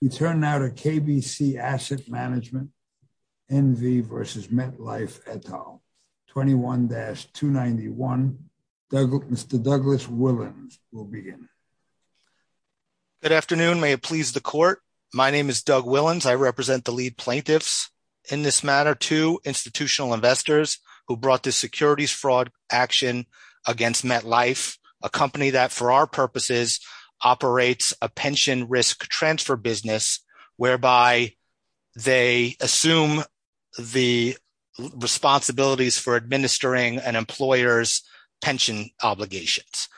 We turn now to KBC Asset Management, NV v. Metlife, et al. 21-291. Mr. Douglas Willens will begin. Good afternoon. May it please the court. My name is Doug Willens. I represent the lead plaintiffs in this matter to institutional investors who brought this securities fraud action against Metlife, a company that for our purposes operates a pension risk transfer business whereby they assume the responsibilities for administering an employer's pension obligations.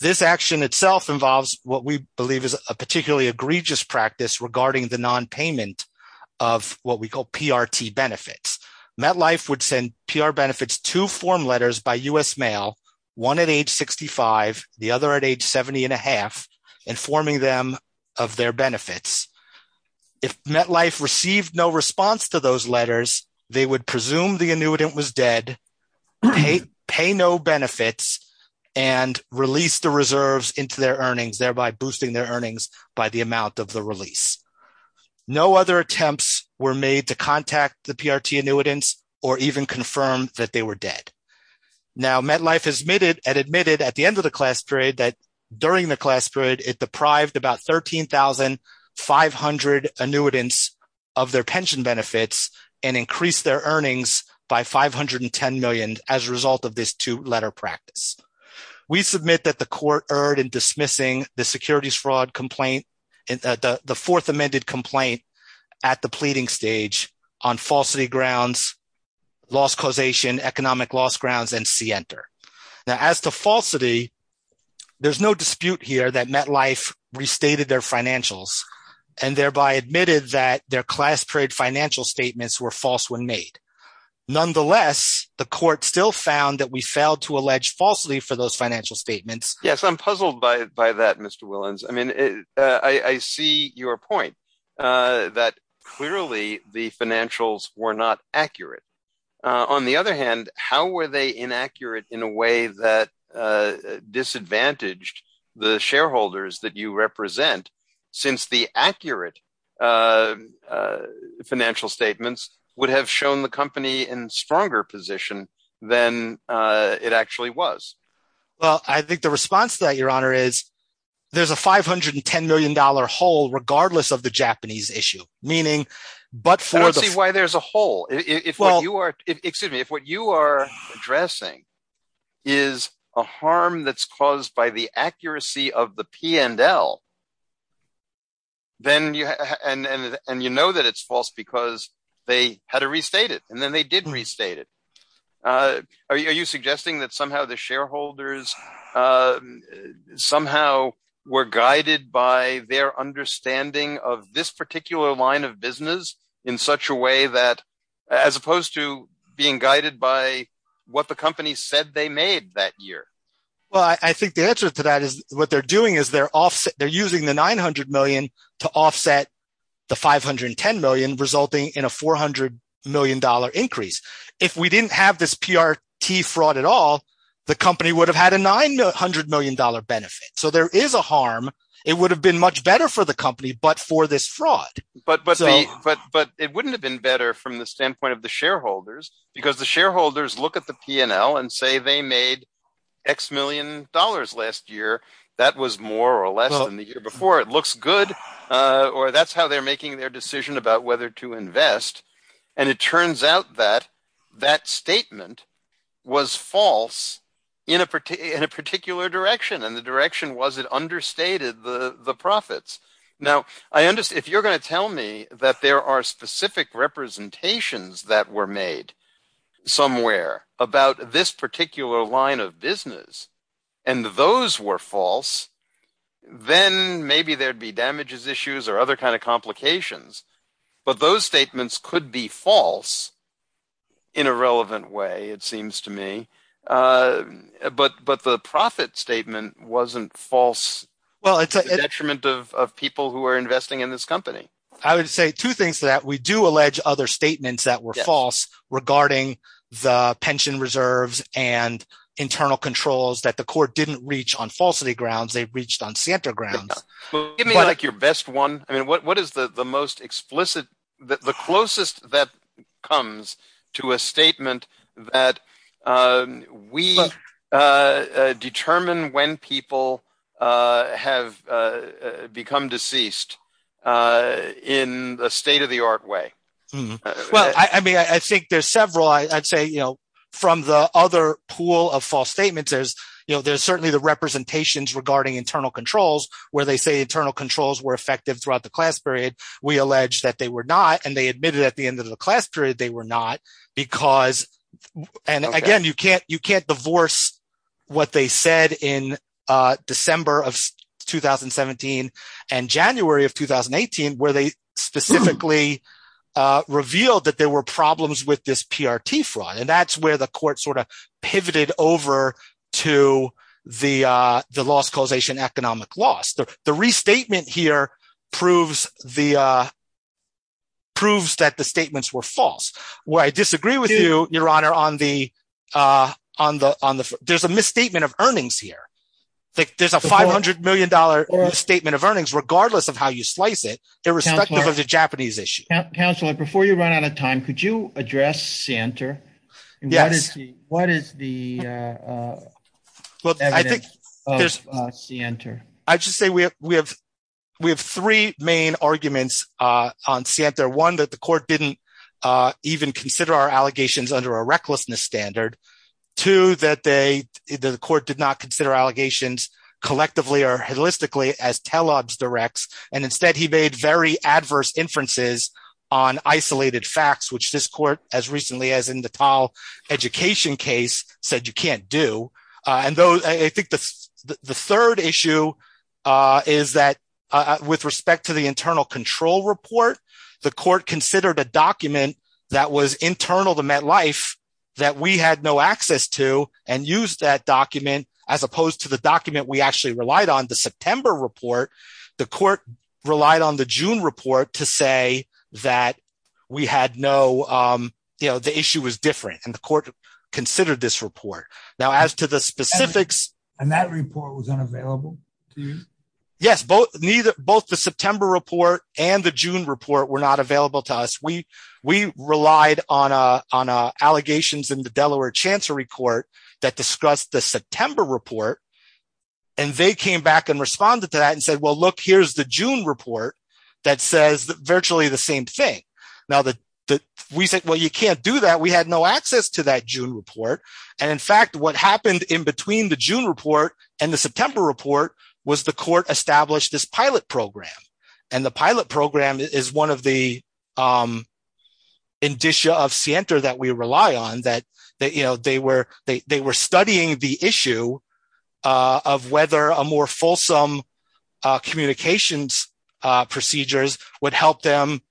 This action itself involves what we believe is a particularly egregious practice regarding the nonpayment of what we call PRT benefits. Metlife would send PR benefits to form letters by U.S. mail, one at age 65, the other at age 70 and a half, informing them of their benefits. If Metlife received no response to those letters, they would presume the annuitant was dead, pay no benefits, and release the reserves into their earnings, thereby boosting their earnings by the amount of the release. No other attempts were made to contact the PRT annuitants or even confirm that they were dead. Now, Metlife has admitted at the end of the class period that during the class period it deprived about 13,500 annuitants of their pension benefits and increased their earnings by $510 million as a result of this two-letter practice. We submit that the court erred in dismissing the securities fraud complaint, the fourth amended complaint at the pleading stage on falsity grounds, loss causation, economic loss grounds, and see enter. Now, as to falsity, there's no dispute here that Metlife restated their financials and thereby admitted that their class period financial statements were false when made. Nonetheless, the court still found that we failed to allege falsely for those financial statements. Yes, I'm puzzled by that, Mr. Willans. I mean, I see your point that clearly the financials were not accurate. On the other hand, how were they inaccurate in a way that disadvantaged the shareholders that you represent since the accurate financial statements would have shown the company in stronger position than it actually was? Well, I think the response to that, Your Honor, is there's a $510 million hole regardless of the Japanese issue. I don't see why there's a hole. If what you are addressing is a harm that's caused by the accuracy of the P&L and you know that it's false because they had to restate it and then they didn't restate it. Are you suggesting that somehow the shareholders somehow were guided by their understanding of this particular line of business in such a way that as opposed to being guided by what the company said they made that year? Well, I think the answer to that is what they're doing is they're using the $900 million to offset the $510 million resulting in a $400 million increase. If we didn't have this PRT fraud at all, the company would have had a $900 million benefit. So there is a harm. It would have been much better for the company but for this fraud. But it wouldn't have been better from the standpoint of the shareholders because the shareholders look at the P&L and say they made X million dollars last year. That was more or less than the year before. It looks good or that's how they're making their decision about whether to invest and it turns out that that statement was false in a particular direction and the direction was it understated the profits. Now, if you're going to tell me that there are specific representations that were made somewhere about this particular line of business and those were false, then maybe there'd be damages issues or other kind of complications. But those statements could be false in a relevant way, it seems to me. But the profit statement wasn't false. It's a detriment of people who are investing in this company. I would say two things to that. We do allege other statements that were false regarding the pension reserves and internal controls that the court didn't reach on falsity grounds. They reached on Santa grounds. Give me your best one. What is the most explicit – the closest that comes to a statement that we determine when people have become deceased in a state-of-the-art way? Well, I mean I think there's several. I'd say from the other pool of false statements, there's certainly the representations regarding internal controls where they say internal controls were effective throughout the class period. We allege that they were not, and they admitted at the end of the class period they were not because – and again, you can't divorce what they said in December of 2017 and January of 2018 where they specifically revealed that there were problems with this PRT fraud. And that's where the court sort of pivoted over to the loss causation economic loss. The restatement here proves the – proves that the statements were false. I disagree with you, Your Honor, on the – there's a misstatement of earnings here. There's a $500 million misstatement of earnings regardless of how you slice it irrespective of the Japanese issue. Counselor, before you run out of time, could you address Sienter? Yes. What is the evidence of Sienter? I would just say we have three main arguments on Sienter. One, that the court didn't even consider our allegations under a recklessness standard. Two, that they – that the court did not consider allegations collectively or holistically as Telobs directs, and instead he made very adverse inferences on isolated facts, which this court, as recently as in the Tal education case, said you can't do. And I think the third issue is that with respect to the internal control report, the court considered a document that was internal to MetLife that we had no access to and used that document as opposed to the document we actually relied on, the September report. The court relied on the June report to say that we had no – the issue was different, and the court considered this report. And that report was unavailable to you? Yes. Both the September report and the June report were not available to us. We relied on allegations in the Delaware Chancery Court that discussed the September report, and they came back and responded to that and said, well, look, here's the June report that says virtually the same thing. We said, well, you can't do that. We had no access to that June report. And in fact, what happened in between the June report and the September report was the court established this pilot program. And the pilot program is one of the indicia of SIENTA that we rely on, that they were studying the issue of whether a more fulsome communications procedures would help them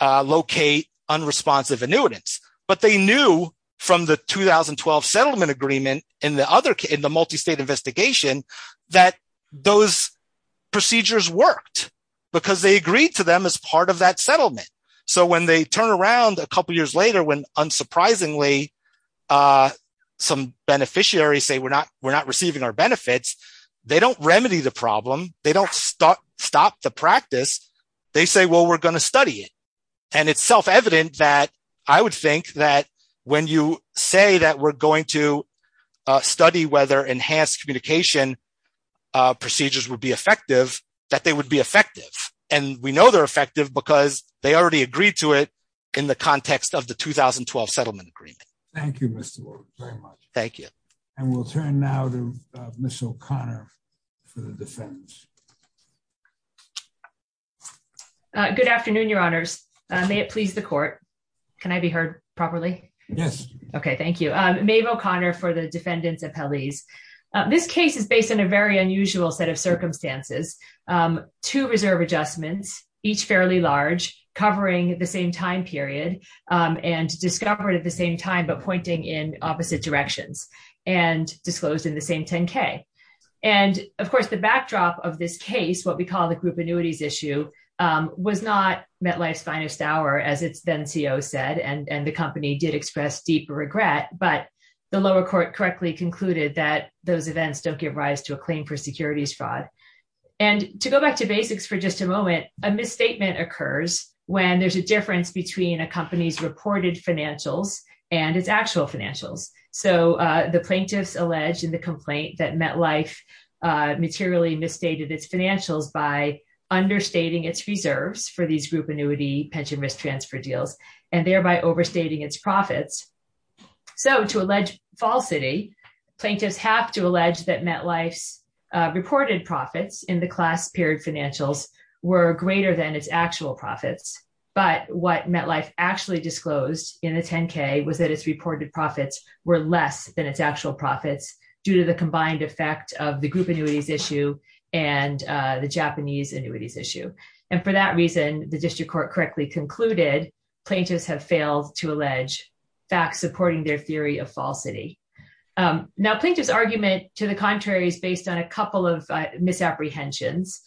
locate unresponsive annuitants. But they knew from the 2012 settlement agreement in the multistate investigation that those procedures worked because they agreed to them as part of that settlement. So when they turn around a couple years later when, unsurprisingly, some beneficiaries say we're not receiving our benefits, they don't remedy the problem. They don't stop the practice. They say, well, we're going to study it. And it's self-evident that I would think that when you say that we're going to study whether enhanced communication procedures would be effective, that they would be effective. And we know they're effective because they already agreed to it in the context of the 2012 settlement agreement. Thank you, Mr. Ward, very much. Thank you. And we'll turn now to Ms. O'Connor for the defendants. Good afternoon, Your Honors. May it please the court. Can I be heard properly? Yes. Okay, thank you. Maeve O'Connor for the defendants' appellees. This case is based on a very unusual set of circumstances. Two reserve adjustments, each fairly large, covering the same time period and discovered at the same time but pointing in opposite directions and disclosed in the same 10-K. And, of course, the backdrop of this case, what we call the group annuities issue, was not MetLife's finest hour, as its then-CO said, and the company did express deep regret, but the lower court correctly concluded that those events don't give rise to a claim for securities fraud. And to go back to basics for just a moment, a misstatement occurs when there's a difference between a company's reported financials and its actual financials. So the plaintiffs allege in the complaint that MetLife materially misstated its financials by understating its reserves for these group annuity pension risk transfer deals and thereby overstating its profits. So to allege falsity, plaintiffs have to allege that MetLife's reported profits in the class period financials were greater than its actual profits. But what MetLife actually disclosed in the 10-K was that its reported profits were less than its actual profits due to the combined effect of the group annuities issue and the Japanese annuities issue. And for that reason, the district court correctly concluded plaintiffs have failed to allege facts supporting their theory of falsity. Now, plaintiffs' argument to the contrary is based on a couple of misapprehensions.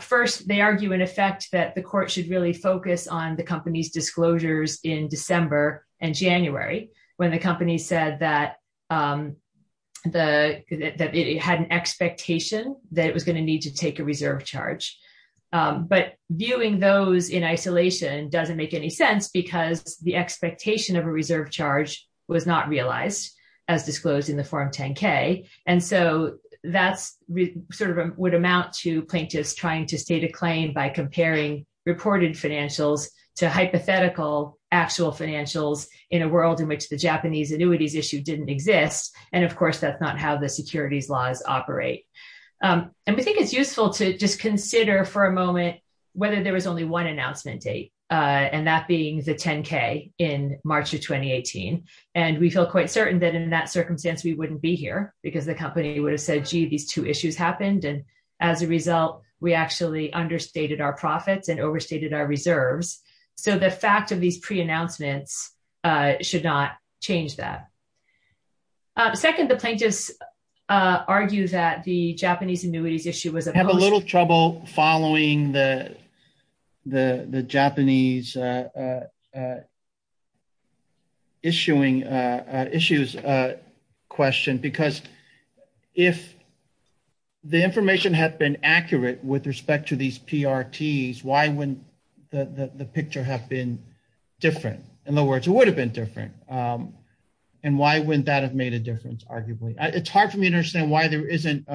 First, they argue in effect that the court should really focus on the company's disclosures in December and January when the company said that it had an expectation that it was going to need to take a reserve charge. But viewing those in isolation doesn't make any sense because the expectation of a reserve charge was not realized as disclosed in the form 10-K. And so that's sort of what amount to plaintiffs trying to state a claim by comparing reported financials to hypothetical actual financials in a world in which the Japanese annuities issue didn't exist. And of course, that's not how the securities laws operate. And we think it's useful to just consider for a moment whether there was only one announcement date, and that being the 10-K in March of 2018. And we feel quite certain that in that circumstance, we wouldn't be here because the company would have said, gee, these two issues happened. And as a result, we actually understated our profits and overstated our reserves. So the fact of these pre-announcements should not change that. Second, the plaintiffs argue that the Japanese annuities issue was opposed. I have a little trouble following the Japanese issues question because if the information had been accurate with respect to these PRTs, why wouldn't the picture have been different? In other words, it would have been different. And why wouldn't that have made a difference, arguably? It's hard for me to understand why there isn't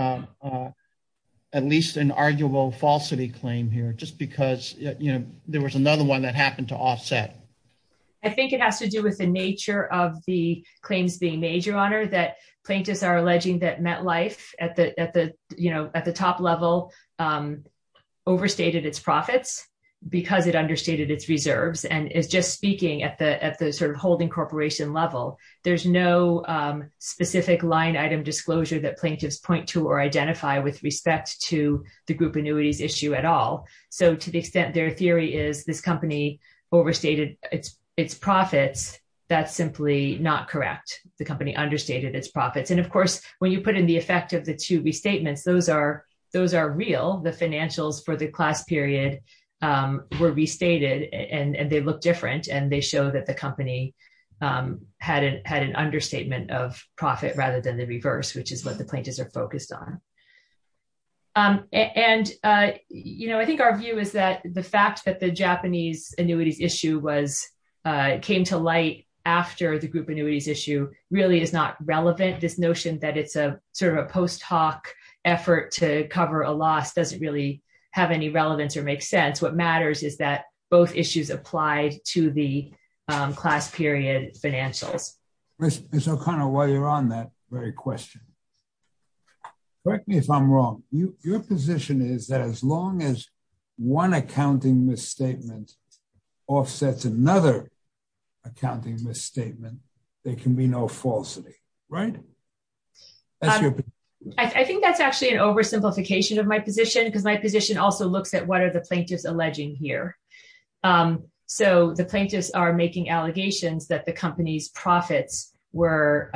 at least an arguable falsity claim here just because there was another one that happened to offset. I think it has to do with the nature of the claims being made, Your Honor, that plaintiffs are alleging that MetLife at the top level overstated its profits because it understated its reserves. And it's just speaking at the sort of holding corporation level. There's no specific line item disclosure that plaintiffs point to or identify with respect to the group annuities issue at all. So to the extent their theory is this company overstated its profits, that's simply not correct. The company understated its profits. And of course, when you put in the effect of the two restatements, those are real. The financials for the class period were restated and they look different. And they show that the company had an understatement of profit rather than the reverse, which is what the plaintiffs are focused on. And, you know, I think our view is that the fact that the Japanese annuities issue came to light after the group annuities issue really is not relevant. This notion that it's a sort of a post hoc effort to cover a loss doesn't really have any relevance or make sense. What matters is that both issues apply to the class period financials. Ms. O'Connor, while you're on that very question, correct me if I'm wrong. Your position is that as long as one accounting misstatement offsets another accounting misstatement, there can be no falsity, right? I think that's actually an oversimplification of my position, because my position also looks at what are the plaintiffs alleging here? So the plaintiffs are making allegations that the company's profits were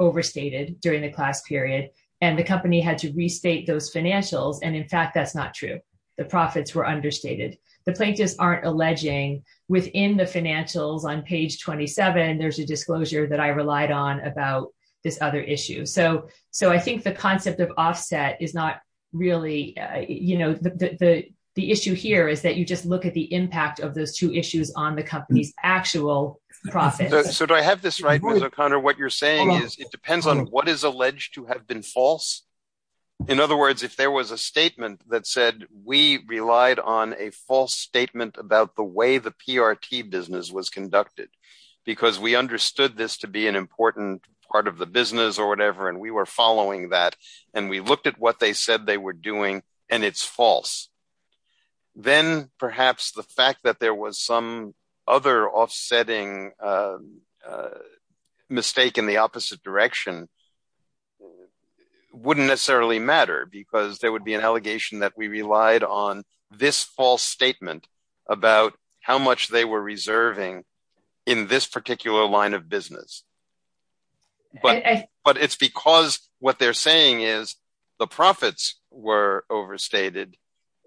overstated during the class period and the company had to restate those financials. And in fact, that's not true. The profits were understated. The plaintiffs aren't alleging within the financials on page 27, there's a disclosure that I relied on about this other issue. So I think the concept of offset is not really, you know, the issue here is that you just look at the impact of those two issues on the company's actual profits. So do I have this right, Ms. O'Connor? What you're saying is it depends on what is alleged to have been false. In other words, if there was a statement that said we relied on a false statement about the way the PRT business was conducted, because we understood this to be an important part of the business or whatever, and we were following that. And we looked at what they said they were doing, and it's false. Then perhaps the fact that there was some other offsetting mistake in the opposite direction wouldn't necessarily matter, because there would be an allegation that we relied on this false statement about how much they were reserving in this particular line of business. But it's because what they're saying is the profits were overstated,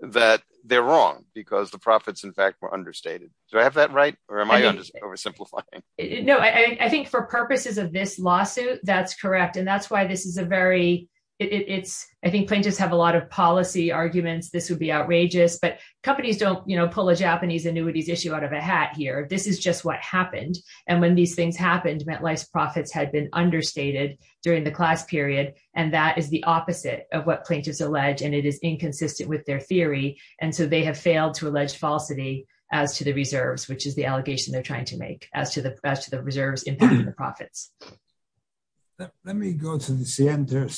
that they're wrong, because the profits, in fact, were understated. Do I have that right? Or am I oversimplifying? No, I think for purposes of this lawsuit, that's correct. And that's why this is a very – I think plaintiffs have a lot of policy arguments. This would be outrageous. But companies don't pull a Japanese annuities issue out of a hat here. This is just what happened. And when these things happened, MetLife's profits had been understated during the class period. And that is the opposite of what plaintiffs allege, and it is inconsistent with their theory. And so they have failed to allege falsity as to the reserves, which is the allegation they're trying to make, as to the reserves impacting the profits. Let me go to this standard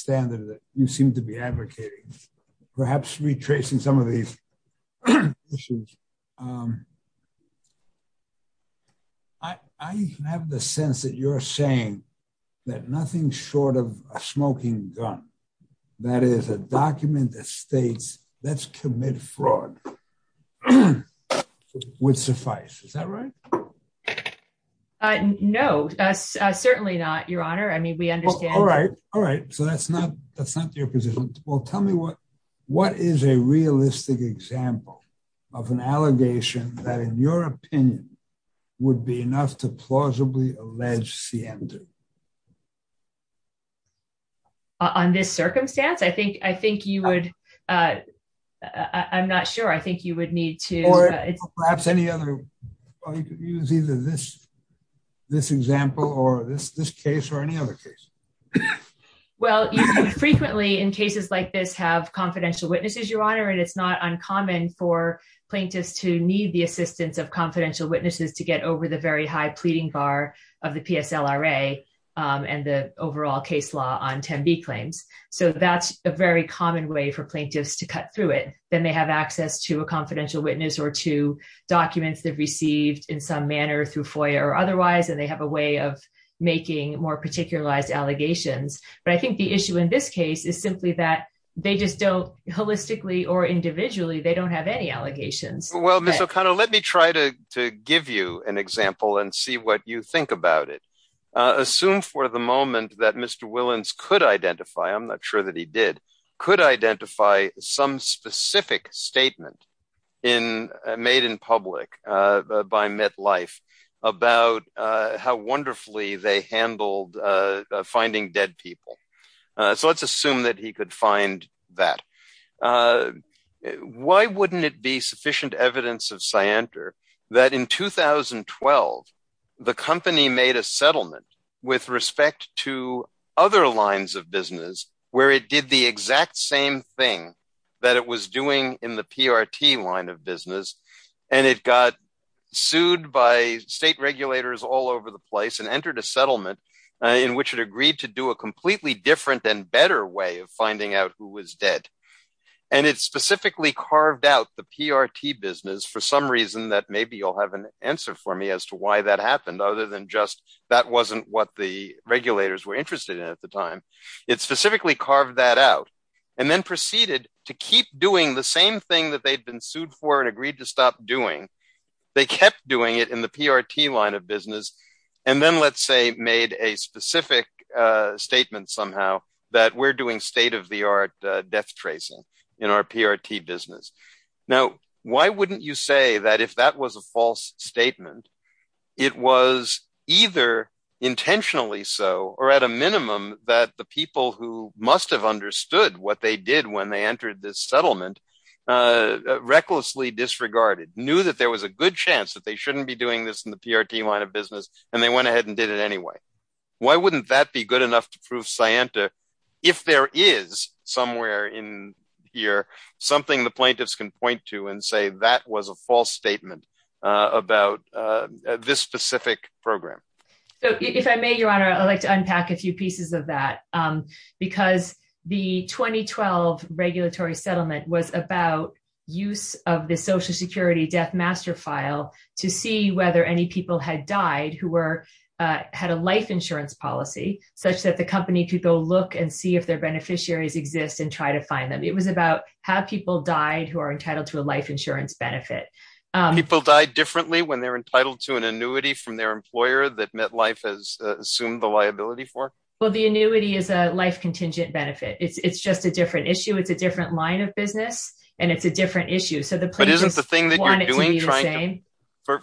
that you seem to be advocating, perhaps retracing some of these issues. I have the sense that you're saying that nothing short of a smoking gun, that is a document that states let's commit fraud, would suffice. Is that right? No, certainly not, Your Honor. I mean, we understand. All right. So that's not your position. Well, tell me what is a realistic example of an allegation that, in your opinion, would be enough to plausibly allege CM2? On this circumstance? I think you would – I'm not sure. I think you would need to – Perhaps any other – you could use either this example or this case or any other case. Well, you frequently, in cases like this, have confidential witnesses, Your Honor, and it's not uncommon for plaintiffs to need the assistance of confidential witnesses to get over the very high pleading bar of the PSLRA and the overall case law on 10b claims. So that's a very common way for plaintiffs to cut through it. Then they have access to a confidential witness or to documents they've received in some manner through FOIA or otherwise, and they have a way of making more particularized allegations. But I think the issue in this case is simply that they just don't – holistically or individually – they don't have any allegations. Well, Ms. O'Connor, let me try to give you an example and see what you think about it. Assume for the moment that Mr. Willans could identify – I'm not sure that he did – could identify some specific statement made in public by MetLife about how wonderfully they handled finding dead people. So let's assume that he could find that. Why wouldn't it be sufficient evidence of scienter that in 2012 the company made a settlement with respect to other lines of business where it did the exact same thing that it was doing in the PRT line of business, and it got sued by state regulators all over the place and entered a settlement in which it agreed to do a completely different and better way of finding out who was dead. And it specifically carved out the PRT business for some reason that maybe you'll have an answer for me as to why that happened, other than just that wasn't what the regulators were interested in at the time. It specifically carved that out and then proceeded to keep doing the same thing that they'd been sued for and agreed to stop doing. They kept doing it in the PRT line of business and then, let's say, made a specific statement somehow that we're doing state-of-the-art death tracing in our PRT business. Now, why wouldn't you say that if that was a false statement, it was either intentionally so or at a minimum that the people who must have understood what they did when they entered this settlement recklessly disregarded, knew that there was a good chance that they shouldn't be doing this in the PRT line of business, and they went ahead and did it anyway. Why wouldn't that be good enough to prove Scienta if there is somewhere in here something the plaintiffs can point to and say that was a false statement about this specific program? If I may, Your Honor, I'd like to unpack a few pieces of that because the 2012 regulatory settlement was about use of the Social Security death master file to see whether any people had died who had a life insurance policy, such that the company could go look and see if their beneficiaries exist and try to find them. It was about how people died who are entitled to a life insurance benefit. People died differently when they're entitled to an annuity from their employer that MetLife has assumed the liability for? Well, the annuity is a life-contingent benefit. It's just a different issue. It's a different line of business, and it's a different issue. But isn't the thing that you're doing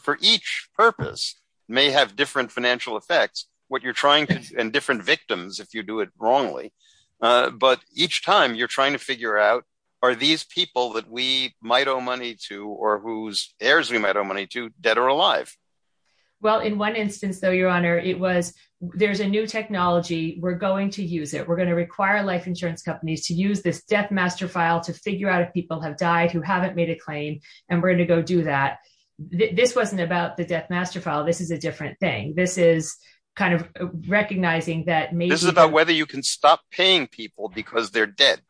for each purpose may have different financial effects and different victims if you do it wrongly. But each time you're trying to figure out, are these people that we might owe money to or whose heirs we might owe money to dead or alive? Well, in one instance, though, Your Honor, it was there's a new technology. We're going to use it. We're going to require life insurance companies to use this death master file to figure out if people have died who haven't made a claim, and we're going to go do that. This wasn't about the death master file. This is a different thing. This is kind of recognizing that this is about whether you can stop paying people because they're dead.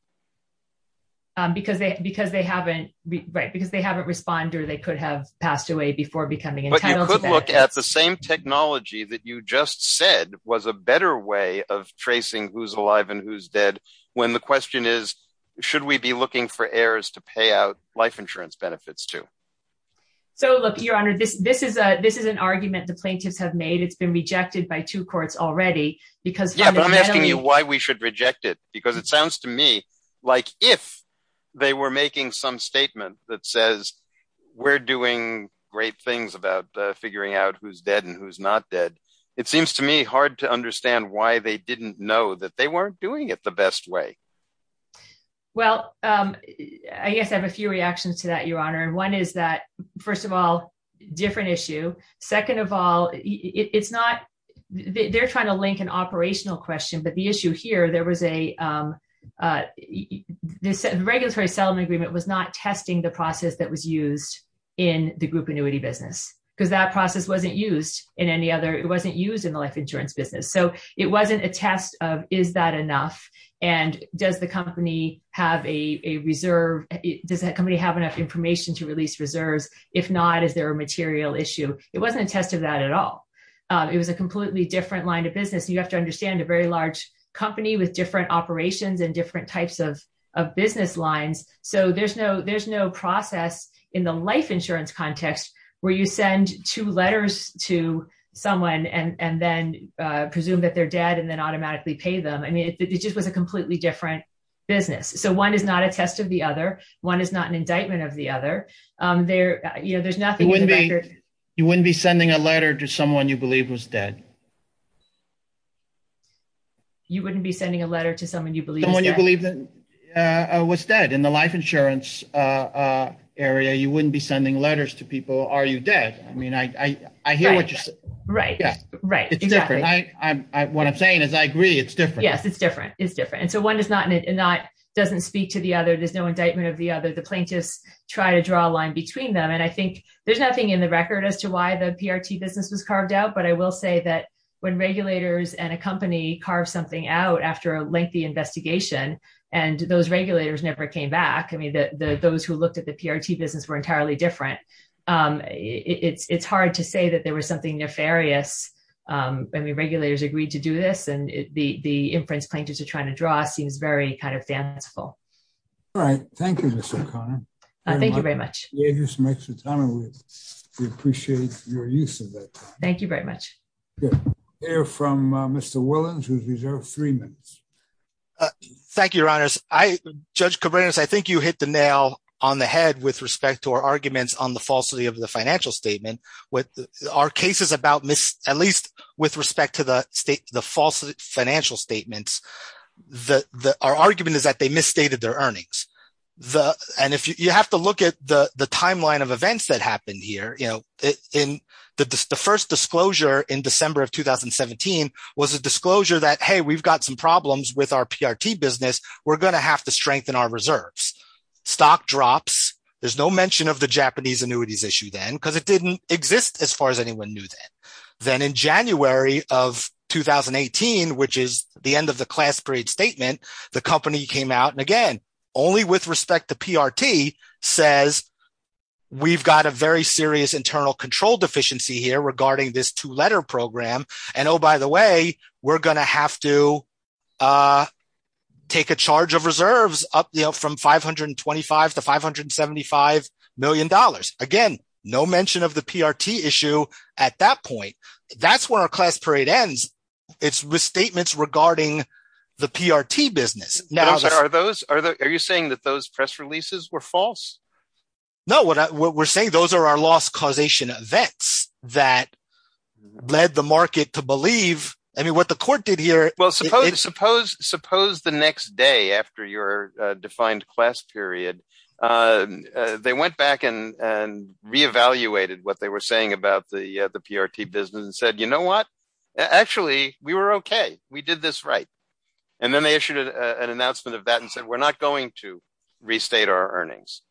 Because they because they haven't because they haven't responded or they could have passed away before becoming entitled. Look at the same technology that you just said was a better way of tracing who's alive and who's dead. When the question is, should we be looking for heirs to pay out life insurance benefits, too? So, look, Your Honor, this this is a this is an argument the plaintiffs have made. It's been rejected by two courts already because I'm asking you why we should reject it, because it sounds to me like if they were making some statement that says we're doing great things about figuring out who's dead and who's not dead. It seems to me hard to understand why they didn't know that they weren't doing it the best way. Well, I guess I have a few reactions to that, Your Honor. And one is that, first of all, different issue. Second of all, it's not they're trying to link an operational question. But the issue here, there was a this regulatory settlement agreement was not testing the process that was used in the group annuity business because that process wasn't used in any other. It wasn't used in the life insurance business. So it wasn't a test of is that enough? And does the company have a reserve? Does that company have enough information to release reserves? If not, is there a material issue? It wasn't a test of that at all. It was a completely different line of business. You have to understand a very large company with different operations and different types of of business lines. So there's no there's no process in the life insurance context where you send two letters to someone and then presume that they're dead and then automatically pay them. I mean, it just was a completely different business. So one is not a test of the other. One is not an indictment of the other there. You know, there's nothing when you wouldn't be sending a letter to someone you believe was dead. You wouldn't be sending a letter to someone you believe when you believe that was dead in the life insurance area, you wouldn't be sending letters to people. Are you dead? I mean, I hear what you're saying. Right. What I'm saying is I agree. It's different. Yes, it's different. It's different. And so one is not not doesn't speak to the other. There's no indictment of the other. The plaintiffs try to draw a line between them. And I think there's nothing in the record as to why the PRT business was carved out. But I will say that when regulators and a company carve something out after a lengthy investigation and those regulators never came back. I mean, those who looked at the PRT business were entirely different. It's hard to say that there was something nefarious. I mean, regulators agreed to do this and the inference plaintiffs are trying to draw seems very kind of fanciful. All right. Thank you, Mr. Thank you very much. Just make some time. We appreciate your use of it. Thank you very much. From Mr. Williams, who's reserved three minutes. Thank you, Your Honors. I, Judge Cabreras, I think you hit the nail on the head with respect to our arguments on the falsity of the financial statement. With our cases about this, at least with respect to the state, the false financial statements that our argument is that they misstated their earnings. And if you have to look at the timeline of events that happened here, you know, in the first disclosure in December of 2017 was a disclosure that, hey, we've got some problems with our PRT business. We're going to have to strengthen our reserves. Stock drops. There's no mention of the Japanese annuities issue then because it didn't exist as far as anyone knew that. Then in January of 2018, which is the end of the class parade statement, the company came out and again, only with respect to PRT says we've got a very serious internal control deficiency here regarding this two letter program. And oh, by the way, we're going to have to take a charge of reserves up from 525 to 575 million dollars. Again, no mention of the PRT issue at that point. That's where our class parade ends. It's with statements regarding the PRT business. Are you saying that those press releases were false? No, what we're saying, those are our loss causation events that led the market to believe. I mean, what the court did here. Well, suppose the next day after your defined class period, they went back and re-evaluated what they were saying about the PRT business and said, you know what? Actually, we were okay. We did this right. And then they issued an announcement of that and said, we're not going to restate our earnings.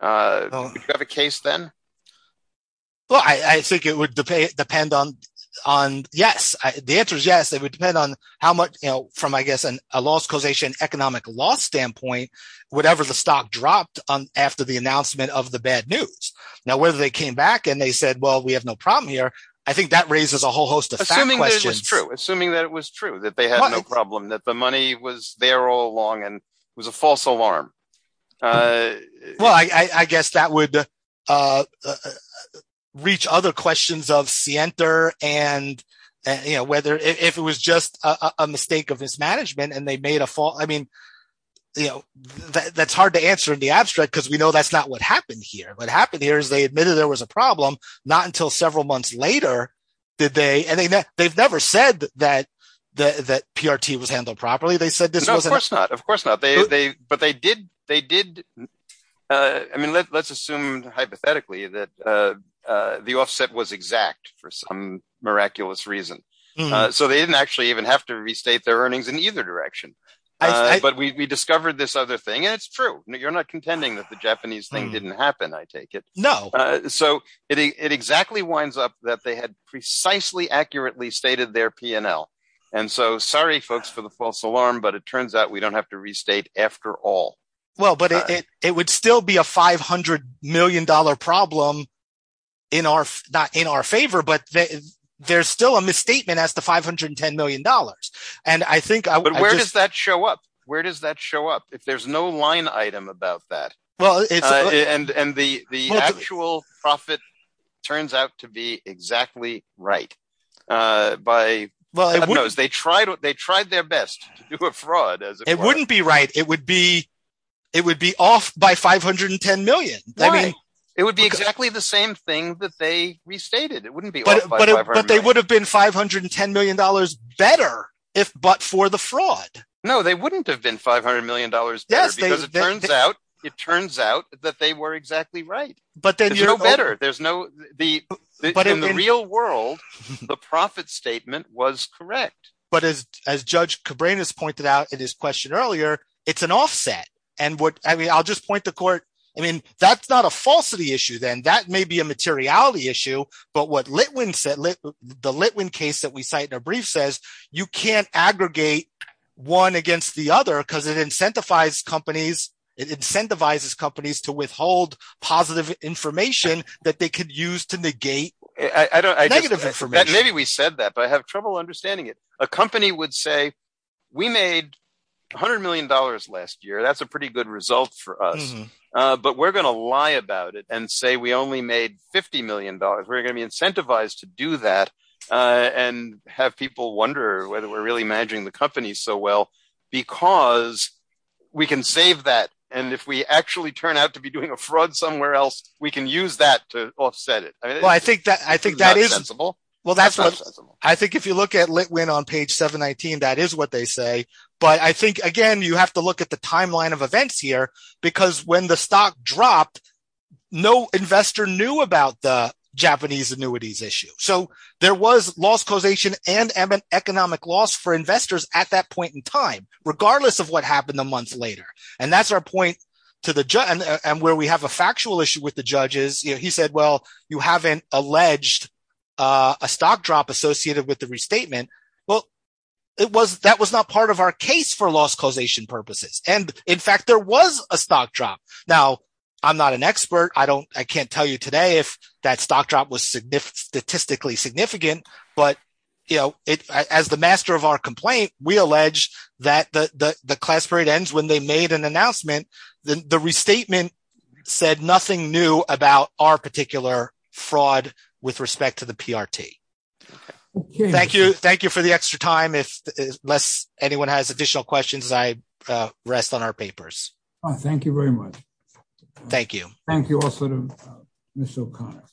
Would you have a case then? Well, I think it would depend on yes. The answer is yes. It would depend on how much from, I guess, a loss causation economic loss standpoint, whatever the stock dropped after the announcement of the bad news. Now, whether they came back and they said, well, we have no problem here. I think that raises a whole host of questions. Assuming that it was true, that they had no problem, that the money was there all along and it was a false alarm. Well, I guess that would reach other questions of Sienter and whether if it was just a mistake of mismanagement and they made a fault. I mean, that's hard to answer in the abstract because we know that's not what happened here. What happened here is they admitted there was a problem, not until several months later did they – and they've never said that PRT was handled properly. No, of course not. Of course not. But they did – I mean, let's assume hypothetically that the offset was exact for some miraculous reason. So they didn't actually even have to restate their earnings in either direction. But we discovered this other thing and it's true. You're not contending that the Japanese thing didn't happen, I take it. No. So it exactly winds up that they had precisely accurately stated their P&L. And so sorry folks for the false alarm, but it turns out we don't have to restate after all. Well, but it would still be a $500 million problem in our favor, but there's still a misstatement as to $510 million. But where does that show up? Where does that show up if there's no line item about that? And the actual profit turns out to be exactly right. They tried their best to do a fraud. It wouldn't be right. It would be off by $510 million. Why? It would be exactly the same thing that they restated. It wouldn't be off by $510 million. But they would have been $510 million better if but for the fraud. No, they wouldn't have been $500 million. Yes, because it turns out it turns out that they were exactly right. But then you're better. There's no the but in the real world, the profit statement was correct. But as Judge Cabrera has pointed out in his question earlier, it's an offset. And I mean, I'll just point the court. I mean, that's not a falsity issue, then that may be a materiality issue. But what Litwin said, the Litwin case that we cite in our brief says you can't aggregate one against the other because it incentivizes companies. It incentivizes companies to withhold positive information that they could use to negate negative information. Maybe we said that, but I have trouble understanding it. A company would say we made $100 million last year. That's a pretty good result for us. But we're going to lie about it and say we only made $50 million. We're going to be incentivized to do that and have people wonder whether we're really managing the company so well because we can save that. And if we actually turn out to be doing a fraud somewhere else, we can use that to offset it. I think if you look at Litwin on page 719, that is what they say. But I think, again, you have to look at the timeline of events here because when the stock dropped, no investor knew about the Japanese annuities issue. So there was loss causation and economic loss for investors at that point in time, regardless of what happened a month later. And that's our point and where we have a factual issue with the judges. He said, well, you haven't alleged a stock drop associated with the restatement. Well, that was not part of our case for loss causation purposes. And in fact, there was a stock drop. Now, I'm not an expert. I can't tell you today if that stock drop was statistically significant. But as the master of our complaint, we allege that the class parade ends when they made an announcement. The restatement said nothing new about our particular fraud with respect to the PRT. Thank you. Thank you for the extra time. Unless anyone has additional questions, I rest on our papers. Thank you very much. Thank you also to Ms. O'Connor.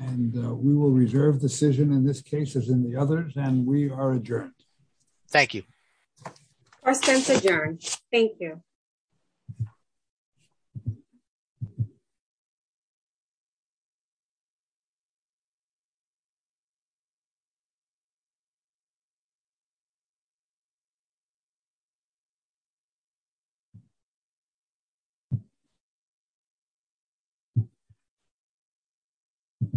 And we will reserve decision in this case as in the others. And we are adjourned. Thank you. Our sense adjourned. Thank you. Thank you. Thank you. Thank you.